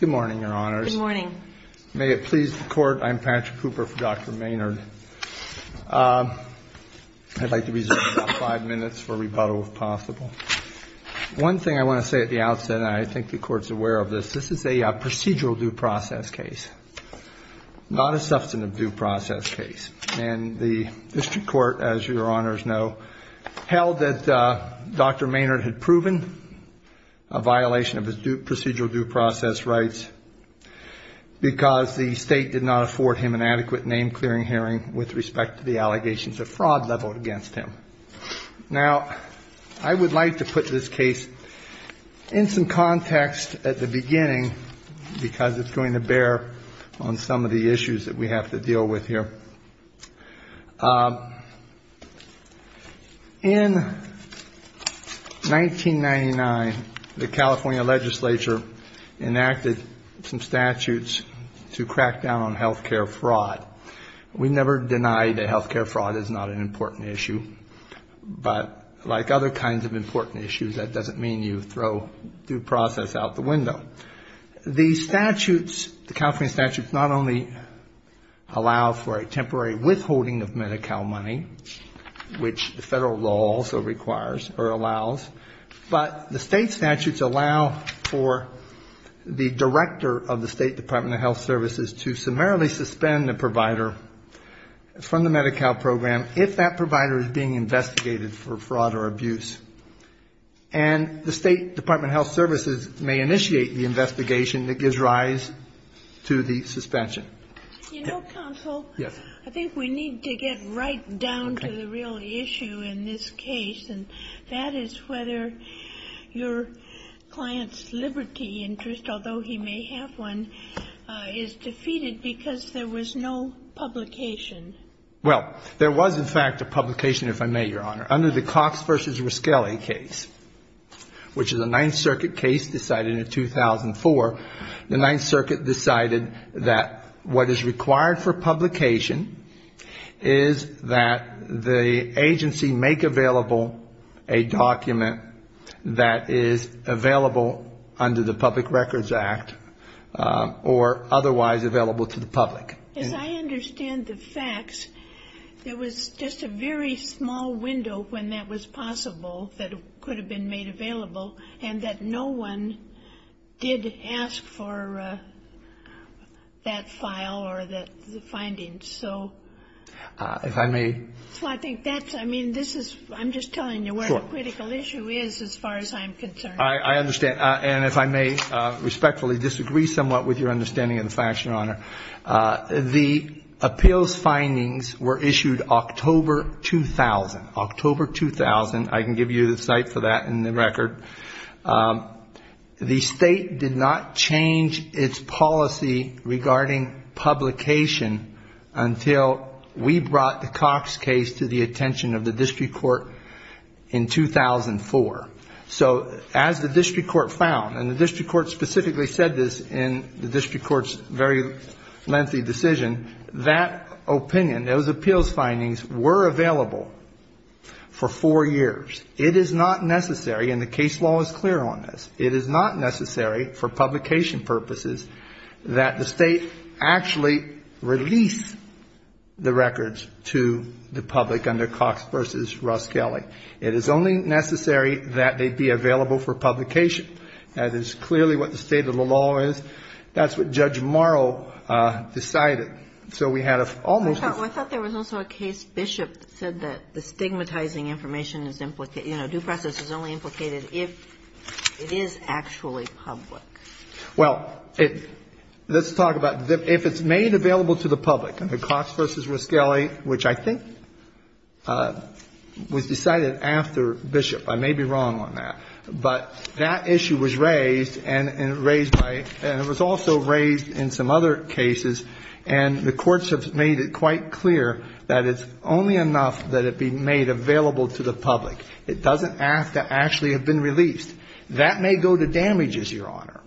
Good morning, Your Honors. Good morning. May it please the Court, I'm Patrick Cooper for Dr. Maynard. I'd like to reserve about five minutes for rebuttal if possible. One thing I want to say at the outset, and I think the Court's aware of this, this is a procedural due process case, not a substantive due process case. And the District Court, as Your Honors know, held that Dr. Maynard had proven a violation of his procedural due process rights because the State did not afford him an adequate name-clearing hearing with respect to the allegations of fraud leveled against him. Now, I would like to put this case in some context at the beginning because it's going to bear on some of the issues that we have to deal with here. In 1999, the California Legislature enacted some statutes to crack down on health care fraud. We never denied that health care fraud is not an important issue, but like other kinds of important issues, that doesn't mean you throw due process out the window. The statutes, the California statutes, not only allow for a temporary withholding of Medi-Cal money, which the federal law also requires or allows, but the State statutes allow for the director of the State Department of Health Services to summarily suspend the provider from the Medi-Cal program if that provider is being investigated for fraud or abuse. And the State Department of Health Services may initiate the investigation that gives rise to the suspension. You know, counsel, I think we need to get right down to the real issue in this case, and that is whether your client's liberty interest, although he may have one, is defeated because there was no publication. Well, there was, in fact, a publication, if I may, Your Honor, under the Cox v. Riskelli case, which is a Ninth Circuit case decided in 2004. The Ninth Circuit decided that what is required for publication is that the agency make available a document that is available under the Public Records Act or otherwise available to the public. As I understand the facts, there was just a very small window when that was possible that could have been made available and that no one did ask for that file or the findings. So I think that's, I mean, this is, I'm just telling you where the critical issue is as far as I'm concerned. I understand. And if I may respectfully disagree somewhat with your understanding of the facts, Your Honor. The appeals findings were issued October 2000, October 2000. I can give you the site for that in the record. The State did not change its policy regarding publication until we brought the Cox case to the attention of the And the district court specifically said this in the district court's very lengthy decision, that opinion, those appeals findings were available for four years. It is not necessary, and the case law is clear on this, it is not necessary for publication purposes that the State actually release the records to the public under Cox v. Riskelli. It is only necessary that they be available for publication. That is clearly what the state of the law is. That's what Judge Morrow decided. So we had almost a I thought there was also a case Bishop said that the stigmatizing information is, you know, due process is only implicated if it is actually public. Well, let's talk about if it's made available to the public under Cox v. Riskelli, which I think was decided after Bishop. I may be wrong on that. But that issue was raised, and it was also raised in some other cases. And the courts have made it quite clear that it's only enough that it be made available to the public. It doesn't have to actually have been released. That may go to damages, Your Honor.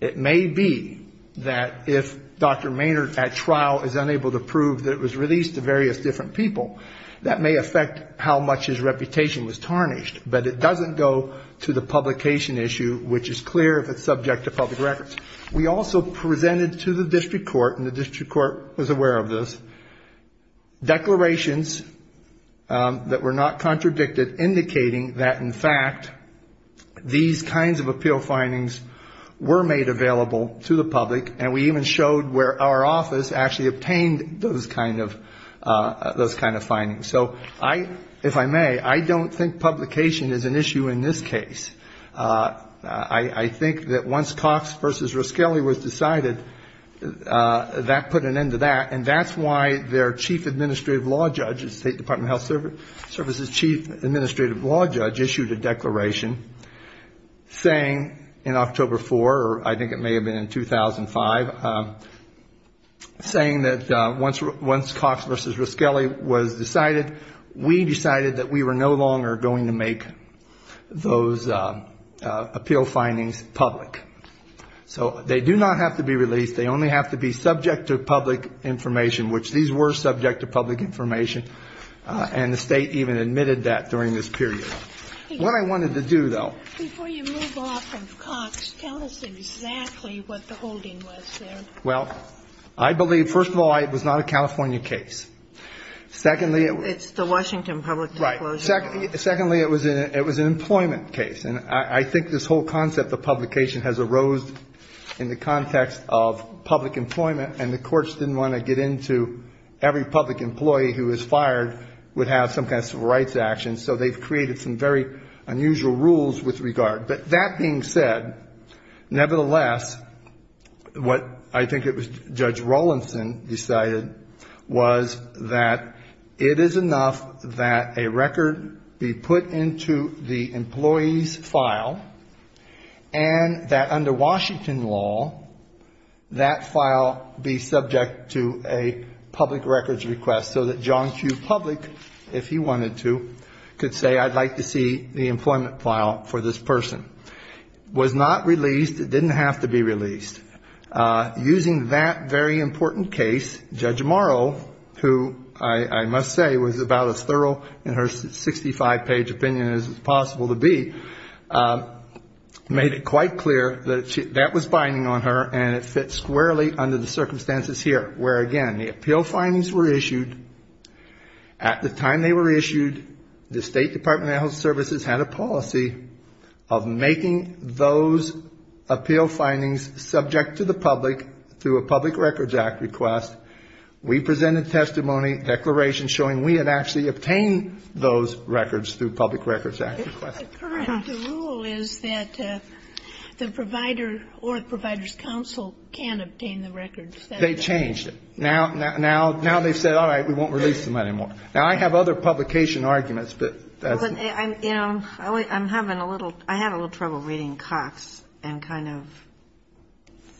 It may be that if Dr. Maynard at trial is unable to prove that it was released to various different people, that may affect how much his reputation was tarnished. But it doesn't go to the publication issue, which is clear if it's subject to public records. We also presented to the district court, and the district court was aware of this, declarations that were not contradicted, indicating that, in fact, these kinds of appeal findings were made available to the public, and we even showed where our office actually obtained those kind of findings. So I, if I may, I don't think publication is an issue in this case. I think that once Cox v. Riskelli was decided, that put an end to that, and that's why their chief administrative law judge, State Department of Health Services chief administrative law judge, issued a declaration saying in October 4, or I think it may have been in 2005, saying that once Cox v. Riskelli was decided, we decided that we were no longer going to make those appeal findings public. So they do not have to be released. They only have to be subject to public information, which these were subject to public information, and the State even admitted that during this period. What I wanted to do, though. Before you move off of Cox, tell us exactly what the holding was there. Well, I believe, first of all, it was not a California case. Secondly, it was an employment case, and I think this whole concept of publication has arose in the context of public employment, and the courts didn't want to get into every public employee who was fired would have some kind of civil rights action, so they've created some very unusual rules with regard. But that being said, nevertheless, what I think it was Judge Rawlinson decided was that it is enough that a record be put into the employee's file, and that under Washington law, that file be subject to a public records request, so that John Q. Public, if he wanted to, could say I'd like to see the employment file for this person. It was not released. It didn't have to be released. Using that very important case, Judge Morrow, who I must say was about as thorough in her 65-page opinion as is possible to be, made it quite clear that that was binding on her, and it fits squarely under the circumstances here, where, again, the appeal findings were issued. At the time they were issued, the State Department of Health Services had a policy of making those appeal findings subject to the public through a public records act request. We presented testimony, declarations showing we had actually obtained those records through public records act request. And that's the current rule, is that the provider or the provider's counsel can't obtain the records. They changed it. Now they've said, all right, we won't release them anymore. Now, I have other publication arguments, but that's... I'm having a little trouble reading Cox and kind of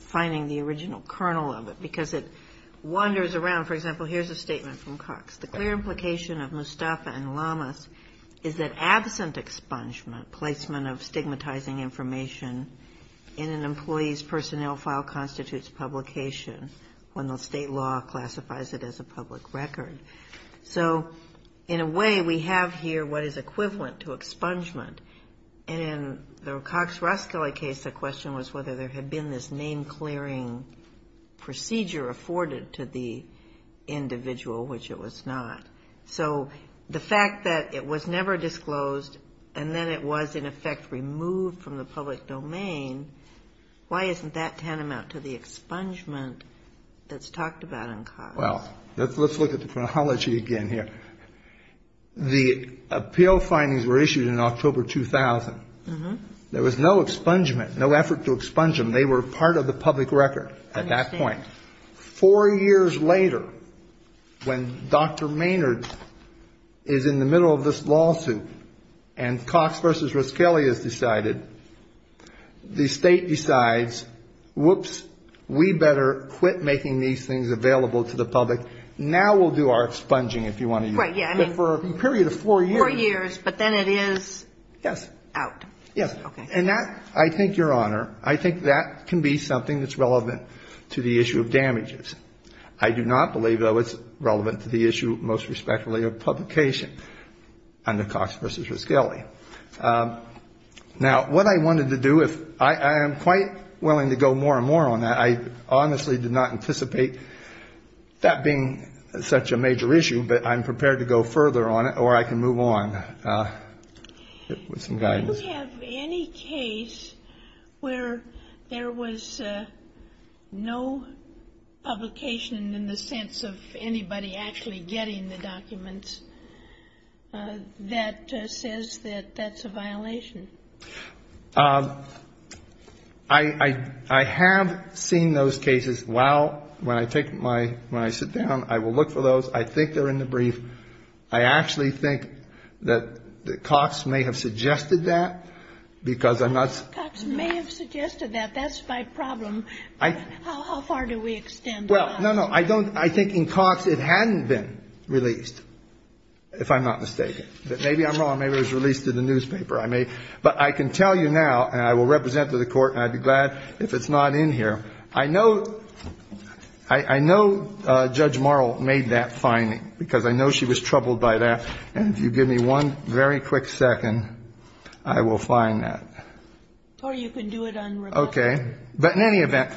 finding the original kernel of it, because it wanders around. For example, here's a statement from Cox, the clear implication of Mustafa and Lamas is that absent expungement, placement of stigmatizing information in an employee's personnel file constitutes publication when the state law classifies it as a public record. So, in a way, we have here what is equivalent to expungement. And in the Cox-Ruskell case, the question was whether there had been this name-clearing procedure afforded to the individual which it was not. So the fact that it was never disclosed and then it was, in effect, removed from the public domain, why isn't that tantamount to the expungement that's talked about in Cox? Well, let's look at the chronology again here. The appeal findings were issued in October 2000. There was no expungement, no effort to expunge them. They were part of the public record at that point. Four years later, when Dr. Maynard is in the middle of this lawsuit and Cox v. Ruskell has decided, the State decides, whoops, we better quit making these things available to the public. Now we'll do our expunging, if you want to use that word. Right. Yeah. I mean for a period of four years. Four years, but then it is out. Yes. And that, I think, Your Honor, I think that can be something that's relevant to the issue of damages. I do not believe, though, it's relevant to the issue, most respectfully, of publication under Cox v. Ruskell. Now, what I wanted to do, I am quite willing to go more and more on that. I honestly did not anticipate that being such a major issue, but I'm going to go along with some guidance. Do you have any case where there was no publication in the sense of anybody actually getting the documents that says that that's a violation? I have seen those cases. While, when I sit down, I will look for those. I think they're in the brief. I actually think, I don't know. That Cox may have suggested that, because I'm not... Cox may have suggested that. That's my problem. How far do we extend that? Well, no, no. I don't. I think in Cox it hadn't been released, if I'm not mistaken. But maybe I'm wrong. Maybe it was released in the newspaper. I may. But I can tell you now, and I will represent to the Court, and I'd be glad if it's not in here. I know, I know Judge Marl made that finding, because I know she was troubled by that. And if you give me one very quick second, I will find that. Or you can do it on record. Okay. But in any event,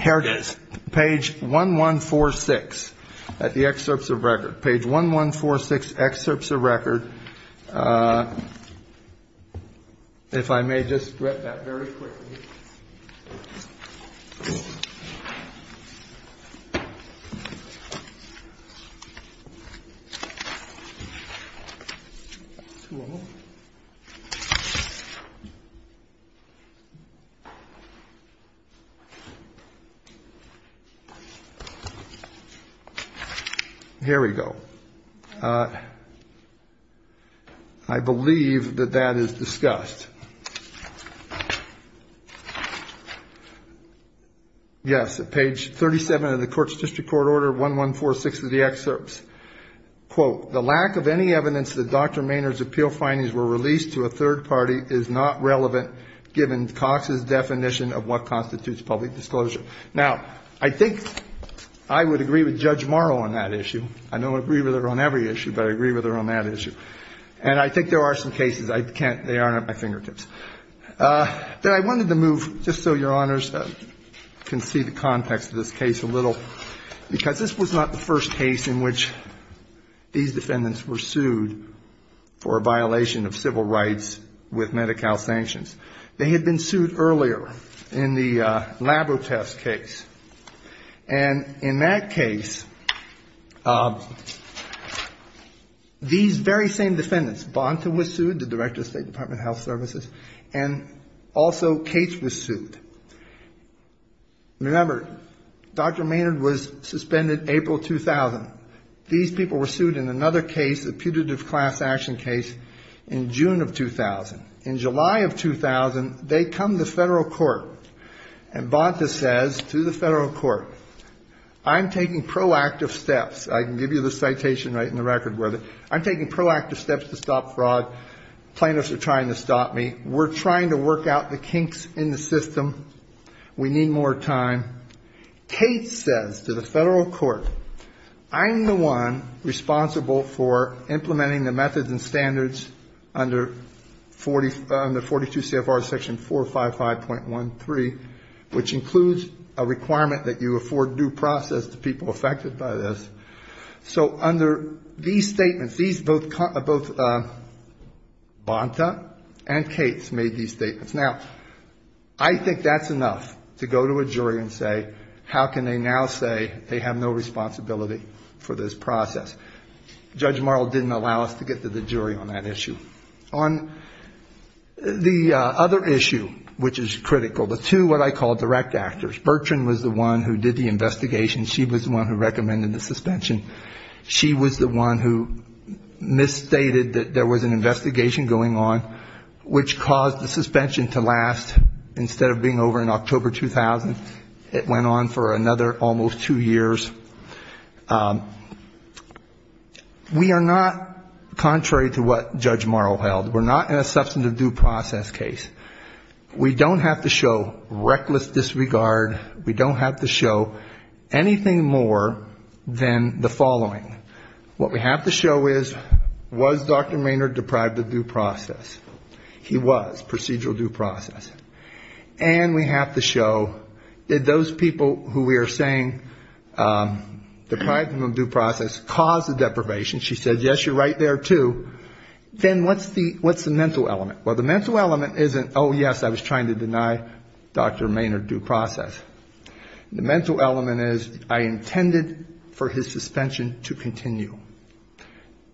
here it is. Page 1146 at the excerpts of record. Page 1146, excerpts of record. If I may just read that very quickly. Here we go. I believe that that is discussed. Yes, at page 37 of the Court's District Court Order 1146 of the excerpts. So, the lack of any evidence that Dr. Maynard's appeal findings were released to a third party is not relevant given Cox's definition of what constitutes public disclosure. Now, I think I would agree with Judge Marl on that issue. I don't agree with her on every issue, but I agree with her on that issue. And I think there are some cases, I can't, they aren't at my fingertips. Then I wanted to move, just so Your Honors can see the context of this case a little, because this was not the first case in which these defendants, these defendants were sued for a violation of civil rights with Medi-Cal sanctions. They had been sued earlier in the Labrotest case. And in that case, these very same defendants, Bonta was sued, the Director of State Department of Health Services, and also Cates was sued. Remember, Dr. Maynard was suspended April 2000. These people were sued in another case, a putative class action case in June of 2000. In July of 2000, they come to federal court, and Bonta says to the federal court, I'm taking proactive steps. I can give you the citation right in the record where the, I'm taking proactive steps to stop fraud. Plaintiffs are trying to stop me. We're trying to work out the kinks in the system. We need more time. Cates says to the federal court, I'm the one responsible for implementing the methods and standards under 42 CFR section 455.13, which includes a requirement that you afford due process to people affected by this. So under these statements, these both, Bonta and Cates made these statements. Now, I think that's enough to go to a jury and say, how can they now say they have no responsibility for this process? Judge Marl didn't allow us to get to the jury on that issue. On the other issue, which is critical, the two what I call direct actors, Bertrand was the one who did the investigation. She was the one who recommended the suspension. She was the one who misstated that there was an investigation going on, which caused the suspension to last. Instead of being over in October 2000, it went on for another almost two years. We are not, contrary to what Judge Marl held, we're not in a substantive due process case. We don't have to show reckless disregard. We don't have to show anything more than the following. What we have to show is, was Dr. Maynard deprived of due process? He was, procedural due process. And we have to show, did those people who we are saying deprived them of due process cause the deprivation? She said, yes, you're right there, too. Then what's the mental element? Well, the mental element isn't, oh, yes, I was trying to deny Dr. Maynard due process. The mental element is, I intended for his suspension to continue.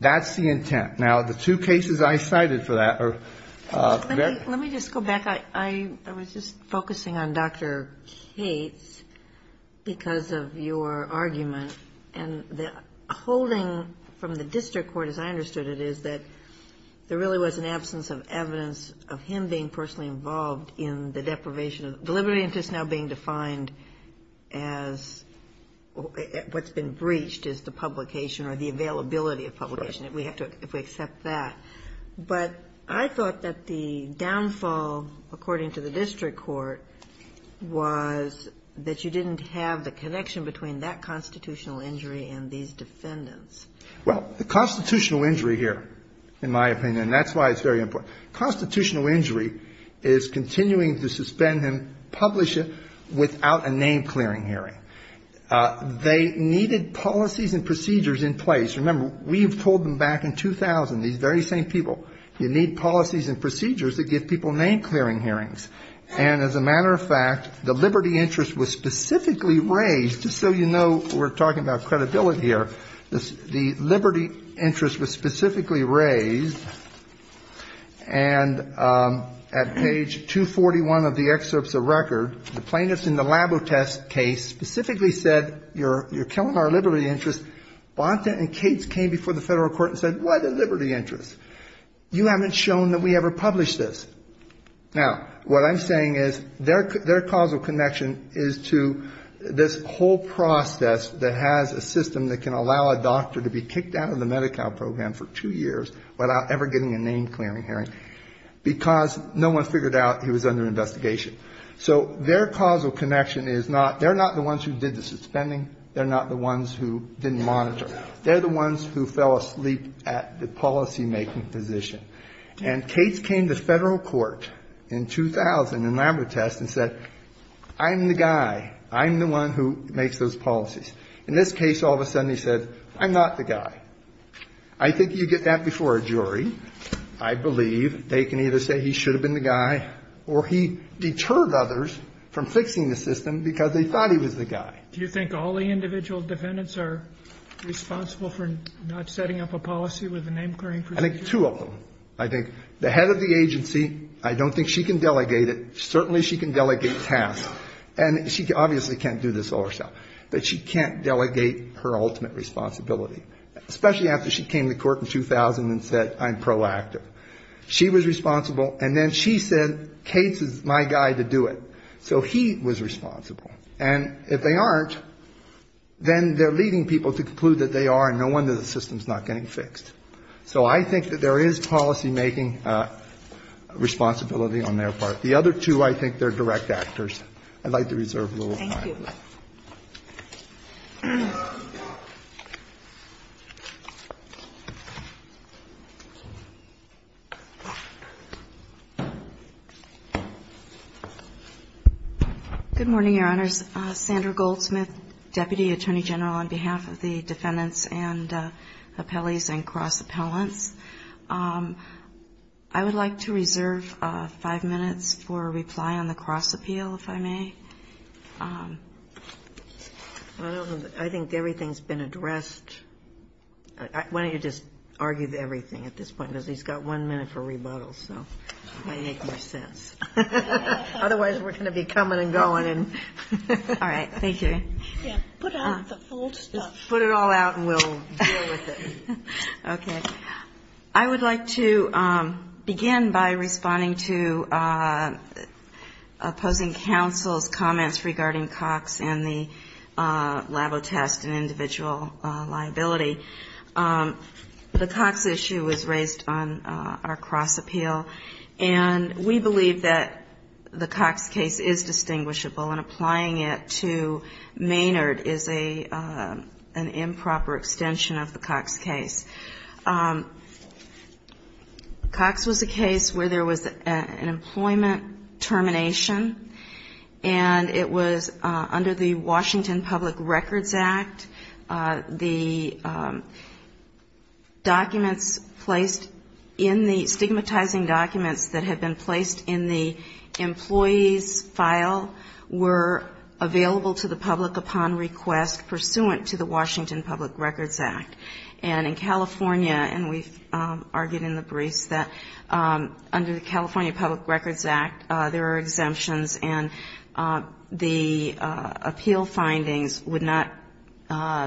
That's the intent. Now, the two cases I cited for that are very... The first one is that there really was an absence of evidence of him being personally involved in the deprivation. Deliberative interest now being defined as what's been breached is the publication or the availability of publication, if we accept that. But I thought that the downfall, according to the district court, was that you didn't have the connection between that constitutional injury and these defendants. Well, the constitutional injury here, in my opinion, and that's why it's very important. Constitutional injury is continuing to suspend him, publish him, without a name-clearing hearing. They needed policies and procedures in place. Remember, we've told them back in 2000, these very same people, you need policies and procedures that give people name-clearing hearings. And as a matter of fact, the liberty interest was specifically raised, just so you know, we're talking about credibility here, the liberty interest was specifically raised, and at page 241 of the excerpts of record, the plaintiffs in the Labotest case specifically said, you're killing our liberty interest. Bonta and Cates came before the federal court and said, what, a liberty interest? You haven't shown that we ever published this. Now, what I'm saying is, their causal connection is to this whole process that has a system that can allow a doctor to be kicked out of the Medi-Cal program for two years without ever getting a name-clearing hearing, because no one figured out he was under investigation. So their causal connection is not, they're not the ones who did the suspending, they're not the ones who didn't monitor. They're the ones who fell asleep at the policymaking position. And Cates came to federal court in 2000 in Labotest and said, I'm the guy, I'm the one who makes those policies. In this case, all of a sudden he said, I'm not the guy. I think you get that before a jury, I believe, they can either say he should have been the guy or he deterred others from fixing the system because they thought he was the guy. Do you think all the individual defendants are responsible for not setting up a policy with a name-clearing procedure? I think two of them. I think the head of the agency, I don't think she can delegate it, certainly she can delegate tasks, and she obviously can't do this all herself, but she can't delegate her ultimate responsibility, especially after she came to court in 2000 and said, I'm proactive. She was responsible, and then she said, Cates is my guy to do it. So he was responsible, and if they aren't, then they're leading people to conclude that they are, and no wonder the system's not getting fixed. So I think that there is policymaking responsibility on their part. The other two, I think they're direct actors. I'd like to reserve a little time. Good morning, Your Honors. Sandra Goldsmith, Deputy Attorney General, on behalf of the defendants and appellees and cross-appellants. I would like to reserve five minutes for a reply on the cross-appeal, if I may. I think everything's been addressed. Why don't you just argue everything at this point, because he's got one minute for rebuttal, so it might make more sense. Otherwise, we're going to be coming and going. All right. Thank you. Put it all out, and we'll deal with it. Okay. I would like to begin by responding to opposing counsel's comments regarding Cox and the Labo test and individual liability. The Cox issue was raised on our cross-appeal, and we believe that it's important to have a cross-appeal. We believe that the Cox case is distinguishable, and applying it to Maynard is an improper extension of the Cox case. Cox was a case where there was an employment termination, and it was under the Washington Public Records Act. The documents placed in the, stigmatizing documents that had been placed in the, in the, in the, in the, in the, in the, in the employees' file were available to the public upon request pursuant to the Washington Public Records Act. And in California, and we've argued in the briefs, that under the California Public Records Act, there are exemptions, and the appeal findings would not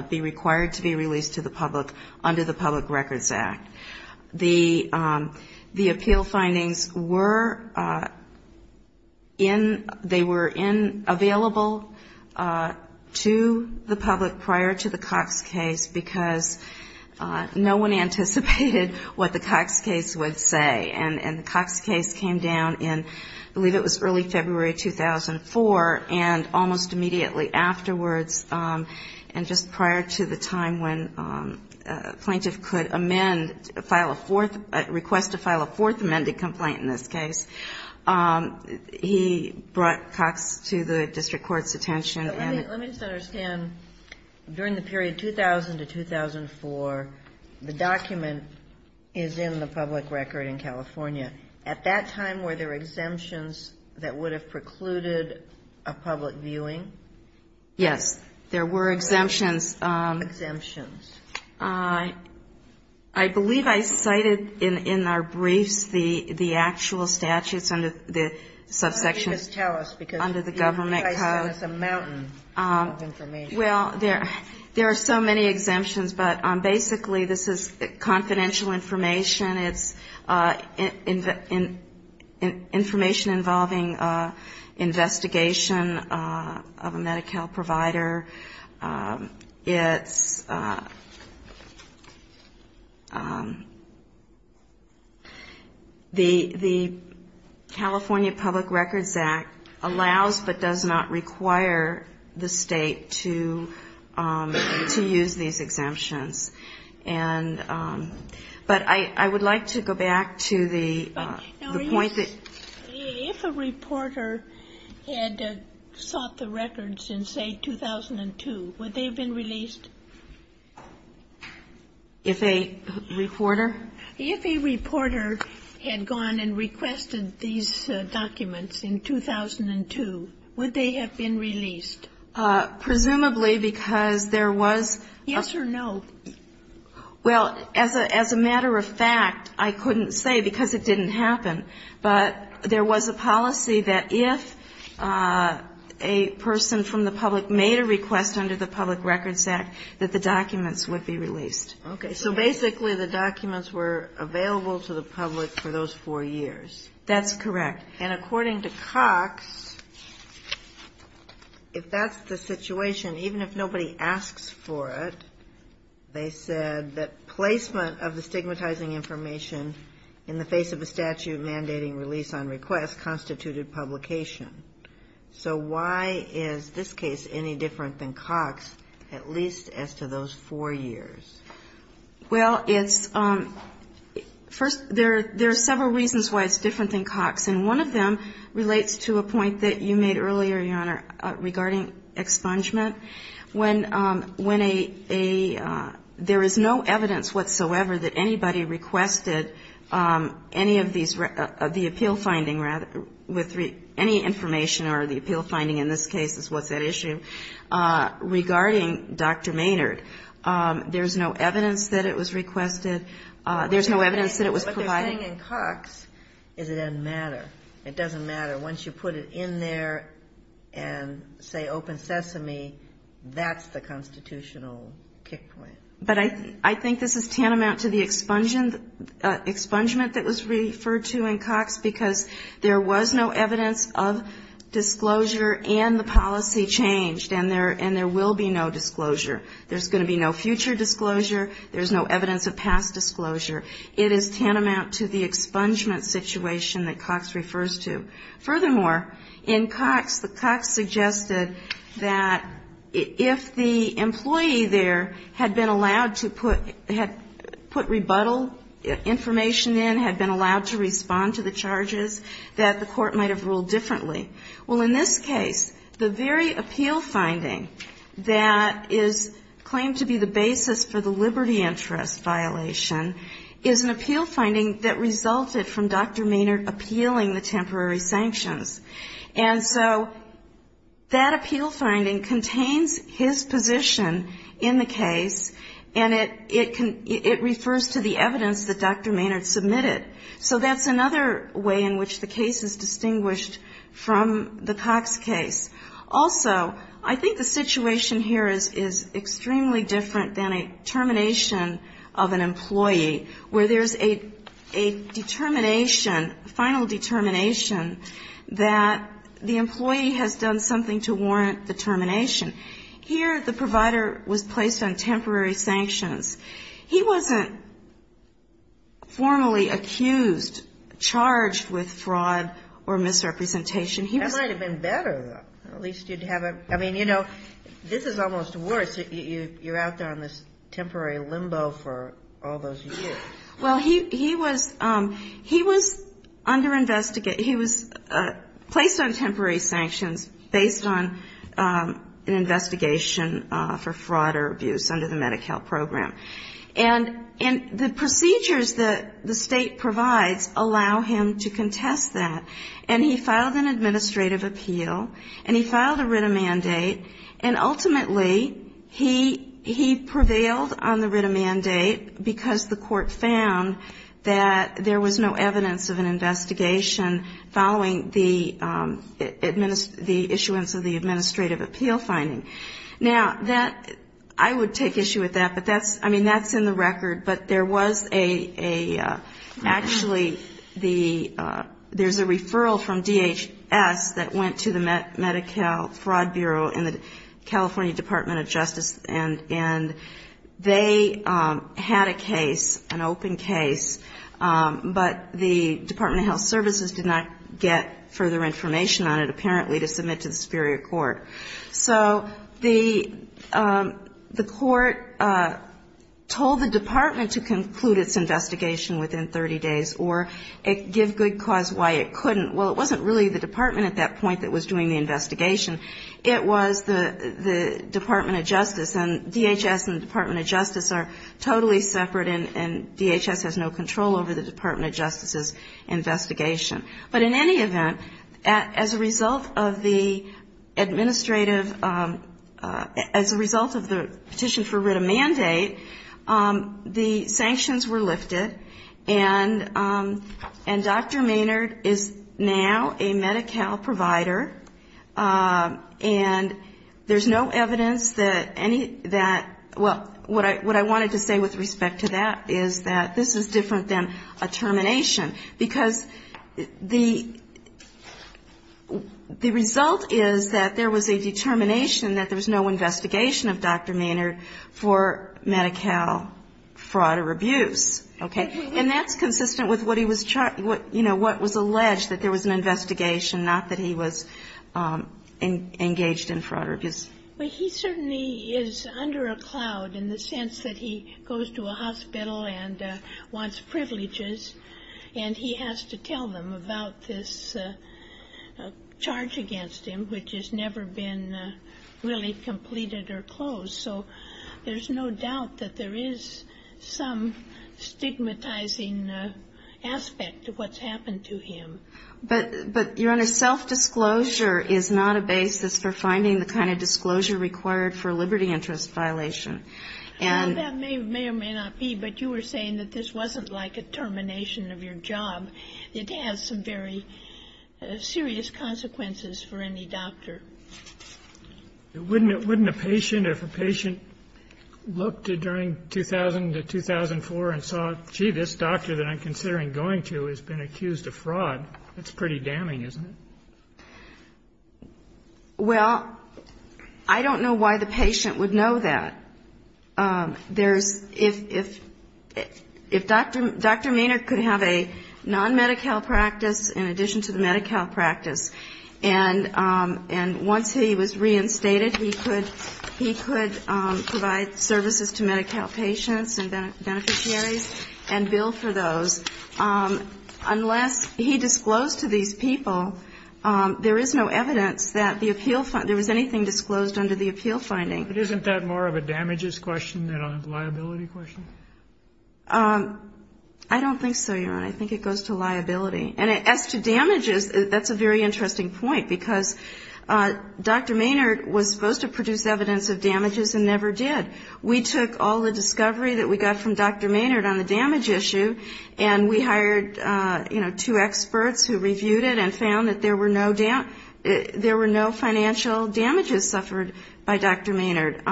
be required to be released to the public under the Public Records Act. The appeal findings were in, they were in, available to the public prior to the Cox case, because no one anticipated what the Cox case would say. And the Cox case came down in, I believe it was early February 2004, and almost immediately afterwards, and just before the judge filed a fourth, request to file a fourth amended complaint in this case, he brought Cox to the district court's attention, and... Let me just understand, during the period 2000 to 2004, the document is in the public record in California. At that time, were there exemptions that would have precluded a public viewing? Yes, there were exemptions. Exemptions? I believe I cited in our briefs the actual statutes under the subsection... Why don't you just tell us, because I see there's a mountain of information. Well, there are so many exemptions, but basically this is confidential information, it's information involving investigation of a case, it's... The California Public Records Act allows, but does not require, the state to use these exemptions. But I would like to go back to the point that... If a reporter had sought the records in, say, 2002, would they have been released? If a reporter? If a reporter had gone and requested these documents in 2002, would they have been released? Presumably, because there was... Yes or no? Well, as a matter of fact, I couldn't say, because it didn't happen, but there was a policy that if a person from the public made a request to the California Public Records Act, that the documents would be released. Okay, so basically the documents were available to the public for those four years. That's correct. And according to Cox, if that's the situation, even if nobody asks for it, they said that placement of the stigmatizing information in the face of a statute mandating release on request constituted publication. So why is this case any different than Cox, at least as to those four years? Well, it's... First, there are several reasons why it's different than Cox, and one of them relates to a point that you made earlier, Your Honor, regarding expungement. When a... There is no evidence whatsoever that anybody requested any of these, the appeal finding, rather, with any information, or the appeal finding in this case is what's at issue, regarding Dr. Maynard. There's no evidence that it was requested. There's no evidence that it was provided. What they're saying in Cox is it doesn't matter. It doesn't matter. Once you put it in there and say open SESAME, that's the constitutional kick point. But I think this is tantamount to the expungement that was referred to in Cox, because there was no evidence of disclosure, and the policy changed, and there will be no disclosure. There's going to be no future disclosure. There's no evidence of past disclosure. It is tantamount to the expungement situation that Cox refers to. Furthermore, in Cox, the Cox suggested that if the employee that requested the expungement, if the employee that requested the expungement there had been allowed to put rebuttal information in, had been allowed to respond to the charges, that the court might have ruled differently. Well, in this case, the very appeal finding that is claimed to be the basis for the liberty interest violation is an appeal finding that resulted from Dr. Maynard appealing the temporary sanctions. And so that appeal finding contains his position in the case, and it refers to the evidence that Dr. Maynard submitted. So that's another way in which the case is distinguished from the Cox case. Also, I think the situation here is extremely different than a termination of an employee, where there's a determination, a final determination, that the employee has done something to warrant the termination. Here, the provider was placed on temporary sanctions. He wasn't formally accused, charged with fraud or misrepresentation. He was ---- That might have been better, though. At least you'd have a ---- I mean, you know, this is almost worse. You're out there on this temporary limbo for all those years. Well, he was under investigation. He was placed on temporary sanctions based on an investigation for fraud or abuse under the Medi-Cal program. And the procedures that the State provides allow him to contest that. And he filed an administrative appeal, and he filed a writ of mandate, and ultimately, he prevailed on the writ of mandate. Because the court found that there was no evidence of an investigation following the issuance of the administrative appeal finding. Now, that ---- I would take issue with that, but that's ---- I mean, that's in the record. But there was a ---- actually, the ---- there's a referral from DHS that went to the Medi-Cal Fraud Bureau and the California Department of Justice, and they asked for a referral, and they had a case, an open case, but the Department of Health Services did not get further information on it, apparently, to submit to the superior court. So the court told the department to conclude its investigation within 30 days or give good cause why it couldn't. Well, it wasn't really the department at that point that was doing the investigation. It was the Department of Justice. And DHS and the Department of Health Services are totally separate, and DHS has no control over the Department of Justice's investigation. But in any event, as a result of the administrative ---- as a result of the petition for writ of mandate, the sanctions were lifted, and Dr. Maynard is now a Medi-Cal provider, and there's no evidence that any ---- that ---- well, what I wanted to say with respect to that is that this is different than a termination, because the result is that there was a determination that there was no investigation of Dr. Maynard for Medi-Cal fraud or abuse, okay? And that's consistent with what he was ---- you know, what was alleged, that there was an investigation, not that he was engaged in fraud or abuse. But he certainly is under a cloud in the sense that he goes to a hospital and wants privileges, and he has to tell them about this charge against him, which has never been really completed or closed. So there's no doubt that there is some stigmatizing aspect of what's happened to him. But, Your Honor, self-disclosure is not a basis for finding the kind of disclosure required for a liberty interest violation. And ---- Kagan. Well, that may or may not be, but you were saying that this wasn't like a termination of your job. It has some very serious consequences for any doctor. Wouldn't a patient, if a patient looked during 2000 to 2004 and saw, gee, this doctor that I'm considering going to has been accused of fraud, that's pretty damning, isn't it? Well, I don't know why the patient would know that. There's ---- if Dr. Maynard could have a non-Medi-Cal practice in addition to the Medi-Cal practice, and once he was reinstated, he could provide services to Medi-Cal patients and beneficiaries and bill for those. Unless he disclosed to these people, there is no evidence that the appeal ---- there was anything disclosed under the appeal finding. But isn't that more of a damages question than a liability question? I don't think so, Your Honor. I think it goes to liability. And as to damages, that's a very interesting point, because Dr. Maynard was supposed to produce evidence of damages and never did. We took all the discovery that we got from Dr. Maynard on the damage issue, and we hired, you know, two experts who reviewed it and found that there were no financial damages suffered by Dr. Maynard.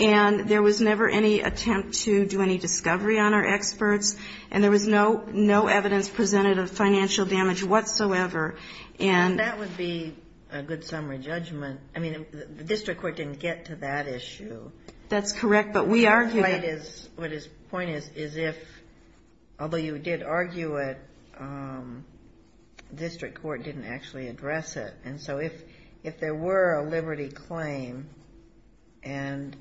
And there was never any attempt to do any discovery on our experts, and there was no evidence presented of financial damage whatsoever. And that would be a good summary judgment. I mean, the district court didn't get to that issue. That's correct, but we argued that ---- What his point is, is if, although you did argue it, district court didn't actually address it. And so if there were a liberty claim and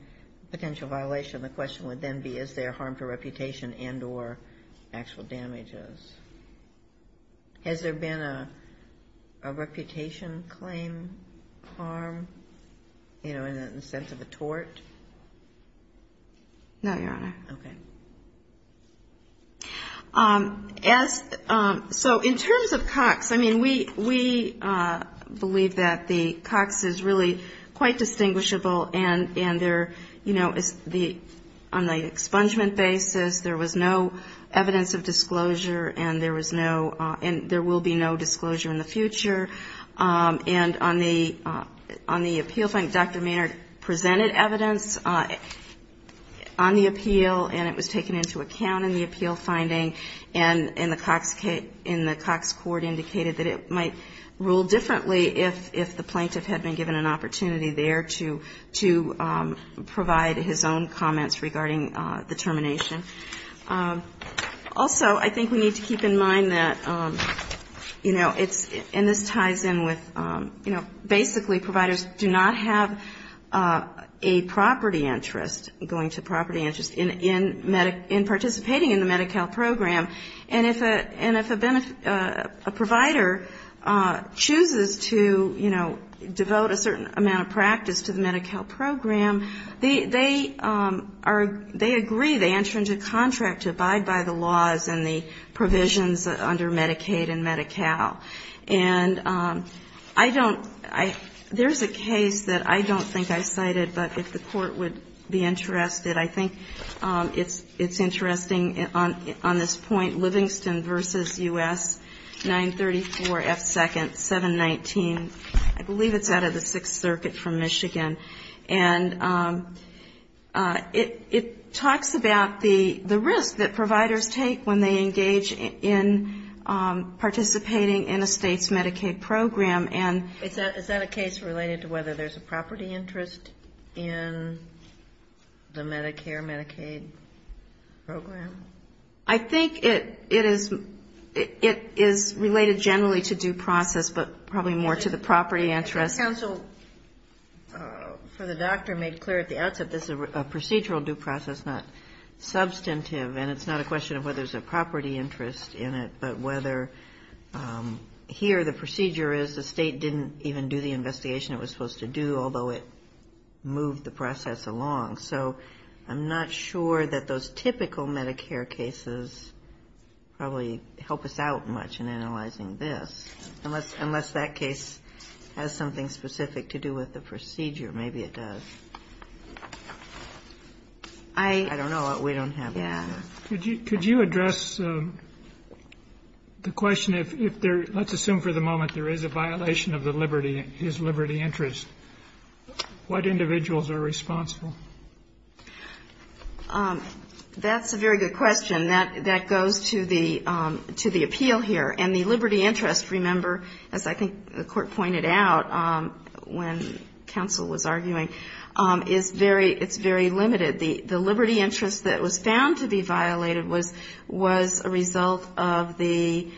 potential violation, the question would then be, is there harm to reputation and or actual damages? Has there been a reputation claim harm, you know, in the sense of a tort? No, Your Honor. Okay. So in terms of Cox, I mean, we believe that the Cox is really quite distinguishable, and there, you know, on the expungement basis, there was no evidence of disclosure, and there was no ---- and there will be no disclosure in the future. And on the appeal finding, Dr. Maynard presented evidence on the appeal, and it was taken into account in the appeal finding, and the Cox court indicated that it might rule differently if the plaintiff had been given an opportunity there to provide his own comments regarding the termination. Also, I think we need to keep in mind that, you know, it's ---- and this ties in with, you know, basically providers do not have a property interest, going to property interest, in participating in the Medi-Cal program. And if a provider chooses to, you know, devote a certain amount of property interest or practice to the Medi-Cal program, they are ---- they agree, they enter into contract to abide by the laws and the provisions under Medicaid and Medi-Cal. And I don't ---- there's a case that I don't think I cited, but if the Court would be interested. I think it's interesting on this point, Livingston v. U.S. 934 F. 2nd, 719. I believe it's out of the Sixth Circuit from Michigan. And it talks about the risk that providers take when they engage in participating in a State's Medicaid program. And ---- Is that a case related to whether there's a property interest in the Medicare, Medicaid program? I think it is related generally to due process, but probably more to the property interest. The counsel for the doctor made clear at the outset this is a procedural due process, not substantive. And it's not a question of whether there's a property interest in it, but whether here the procedure is the State didn't even do the investigation it was supposed to do, although it moved the process along. So I'm not sure that those typical Medicare cases probably help us out much in analyzing this, unless that case has something specific to do with the procedure. Maybe it does. I don't know. We don't have that. Yeah. Could you address the question if there ---- let's assume for the moment there is a violation of the liberty, his liberty interest, what individuals are responsible? That's a very good question. That goes to the appeal here. And the liberty interest, remember, as I think the Court pointed out when counsel was arguing, is very ---- it's very limited. The liberty interest that was found to be violated was a result of the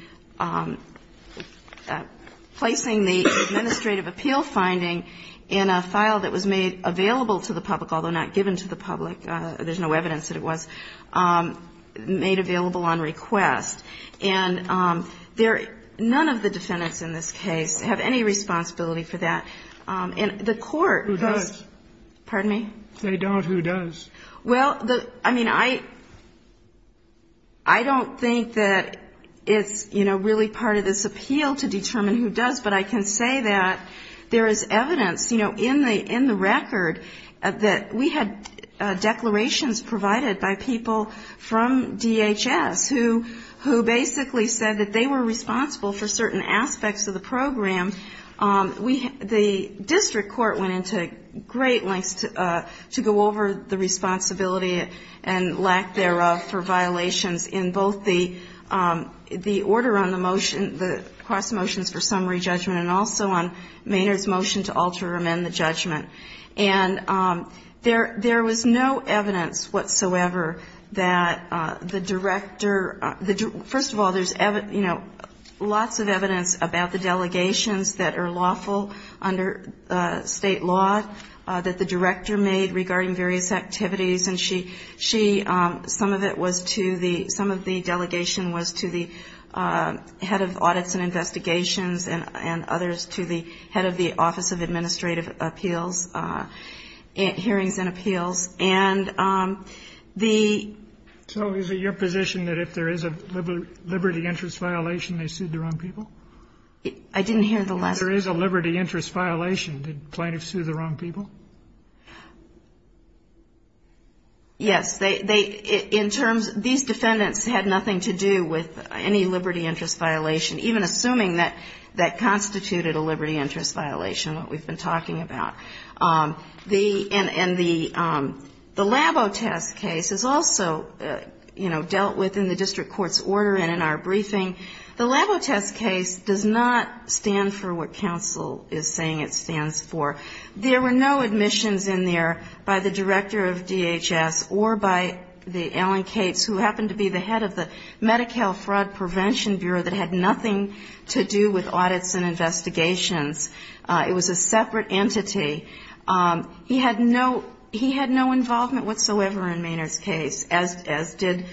placing the administrative authority of appeal finding in a file that was made available to the public, although not given to the public. There's no evidence that it was made available on request. And there ---- none of the defendants in this case have any responsibility for that. And the Court has ---- Who does? Pardon me? They don't. Who does? Well, the ---- I mean, I don't think that it's, you know, really part of this appeal to determine who does. But I can say that there is evidence, you know, in the record that we had declarations provided by people from DHS who basically said that they were responsible for certain aspects of the program. The district court went into great lengths to go over the responsibility and lack thereof for violations in both the order on the motion, the cross motions for summary judgment, and also on Maynard's motion to alter or amend the judgment. And there was no evidence whatsoever that the director ---- first of all, there's, you know, lots of evidence about the delegations that are lawful under State law that the director made regarding various activities. And she ---- she ---- some of it was to the ---- some of the delegation was to the head of audits and investigations and others to the head of the Office of Administrative Appeals, hearings and appeals. And the ---- So is it your position that if there is a liberty interest violation, they sued the wrong people? I didn't hear the last part. If there is a liberty interest violation, did plaintiffs sue the wrong people? Yes. They ---- in terms ---- these defendants had nothing to do with any liberty interest violation, even assuming that that constituted a liberty interest violation, what we've been talking about. The ---- and the LABO test case is also, you know, dealt with in the district court's order and in our briefing. The LABO test case does not stand for what counsel is saying it stands for. There were no admissions in there by the director of DHS or by the ---- who happened to be the head of the Medi-Cal Fraud Prevention Bureau that had nothing to do with audits and investigations. It was a separate entity. He had no ---- he had no involvement whatsoever in Maynard's case, as did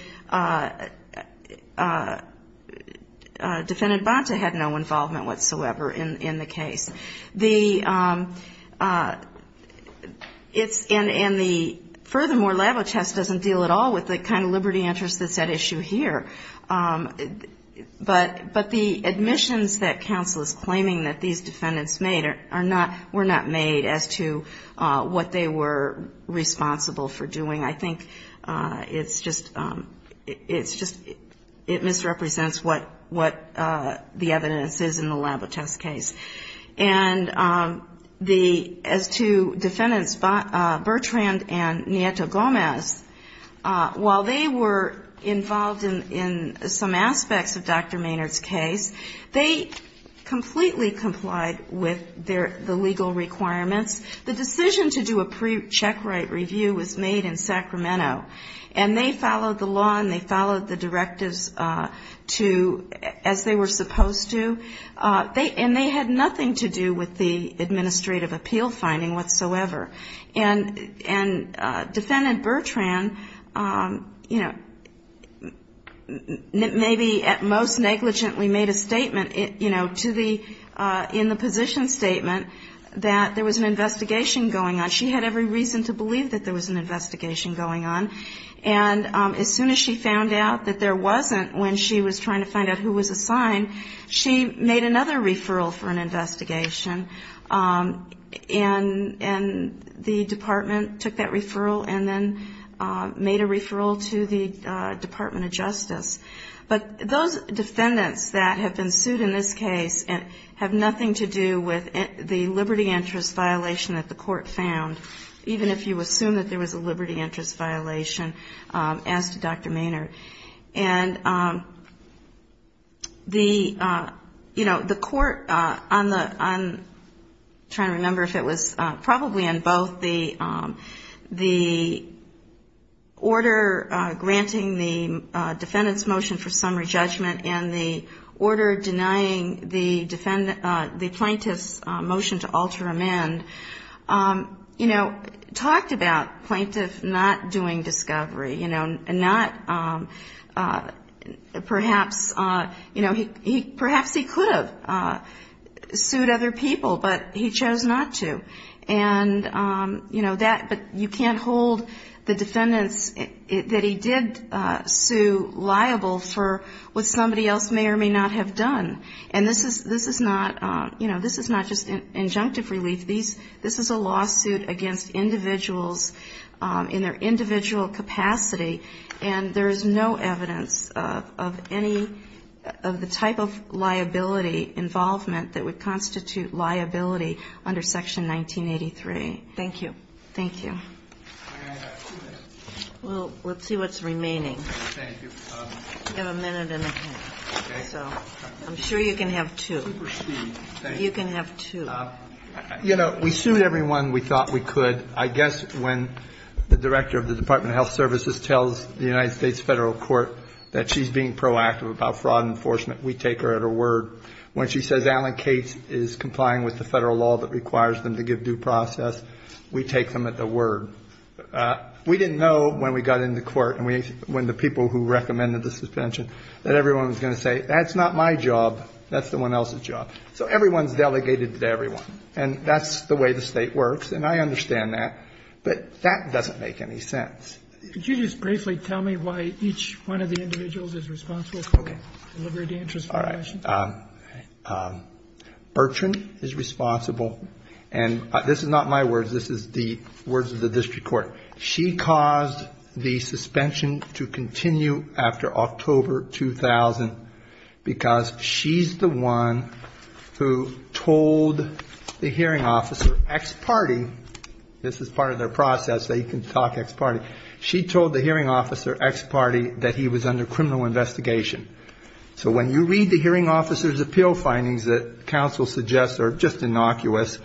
Defendant Bonta had no involvement whatsoever in the case. The ---- it's ---- and the ---- furthermore, LABO test doesn't deal at all with the kind of liberty interest that's at issue here. But the admissions that counsel is claiming that these defendants made are not ---- were not made as to what they were responsible for doing. I think it's just ---- it's just ---- it misrepresents what the evidence is in the LABO test case. And the ---- as to defendants Bertrand and Nieto Gomez, while they were involved in some aspects of Dr. Maynard's case, they completely complied with their ---- the legal requirements. The decision to do a pre-checkright review was made in Sacramento. And they followed the law and they followed the directives to ---- as they were supposed to. They ---- and they had nothing to do with the administrative appeal finding whatsoever. And Defendant Bertrand, you know, maybe at most negligently made a statement, you know, to the ---- in the position that there was an investigation going on. She had every reason to believe that there was an investigation going on. And as soon as she found out that there wasn't when she was trying to find out who was assigned, she made another referral for an investigation. And the department took that referral and then made a referral to the Department of Justice. And that was the liberty interest violation that the court found, even if you assume that there was a liberty interest violation, as to Dr. Maynard. And the, you know, the court on the ---- I'm trying to remember if it was probably on both the order granting the defendant's motion for summary judgment and the order denying the defendant ---- the plaintiff's motion for summary judgment and the motion to alter amend, you know, talked about plaintiff not doing discovery, you know, and not perhaps, you know, perhaps he could have sued other people, but he chose not to. And, you know, that ---- but you can't hold the defendants that he did sue liable for what somebody else may or may not have done. And this is not, you know, this is not just injunctive relief. This is a lawsuit against individuals in their individual capacity, and there is no evidence of any of the type of liability involvement that would constitute liability under Section 1983. Thank you. Well, let's see what's remaining. We have a minute and a half. So I'm sure you can have two. You can have two. You know, we sued everyone we thought we could. I guess when the director of the Department of Health Services tells the United States Federal Court that she's being proactive about fraud enforcement, we take her at her word. When she says Alan Cates is complying with the Federal law that requires them to give due process, we take her at her word. We didn't know when we got into court and when the people who recommended the suspension that everyone was going to say, that's not my job, that's someone else's job. So everyone's delegated to everyone. And that's the way the State works, and I understand that. But that doesn't make any sense. Could you just briefly tell me why each one of the individuals is responsible for the liberty interest litigation? All right. Bertrand is responsible. And this is not my words. This is the individual's. This is the words of the district court. She caused the suspension to continue after October 2000 because she's the one who told the hearing officer, ex-party, this is part of their process, they can talk ex-party, she told the hearing officer, ex-party, that he was under criminal investigation. So when you read the hearing officer's appeal findings that counsel suggests are just innocuous,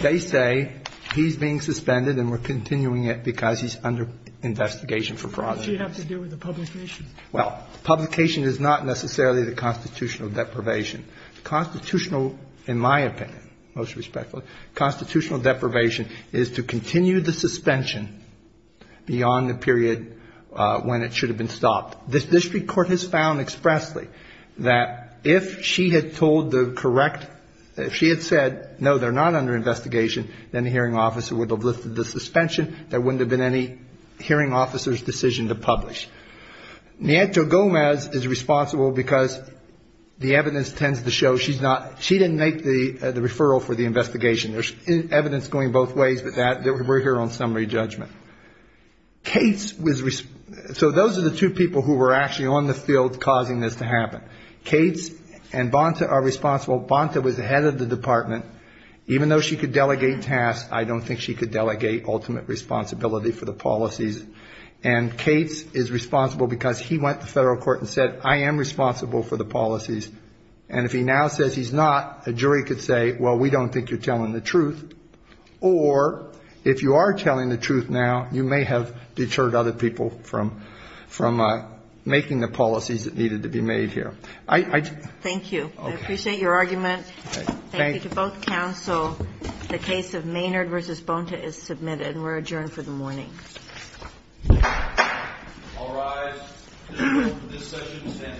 they say he's being suspended and we're continuing it because he's under investigation for fraud. What does she have to do with the publication? Well, publication is not necessarily the constitutional deprivation. Constitutional, in my opinion, most respectfully, constitutional deprivation is to continue the suspension beyond the period when it should have been stopped. This district court has found expressly that if she had told the correct, if she had said, no, they're not under investigation, then the hearing officer would have lifted the suspension. There wouldn't have been any hearing officer's decision to publish. Nieto Gomez is responsible because the evidence tends to show she's not, she didn't make the referral for the investigation. There's evidence going both ways, but that, we're here on summary judgment. Cates was, so those are the two people who were actually on the field causing this to happen. Cates and Bonta are responsible. Bonta was the head of the department. Even though she could delegate tasks, I don't think she could delegate ultimate responsibility for the policies. And Cates is responsible because he went to federal court and said, I am responsible for the policies. And if he now says he's not, a jury could say, well, we don't think you're telling the truth. Or if you are telling the truth now, you may have deterred other people from, from making the policies that needed to be made here. Thank you. I appreciate your argument. Thank you to both counsel. The case of Maynard versus Bonta is submitted and we're adjourned for the morning. All rise. This session is adjourned. Thank you.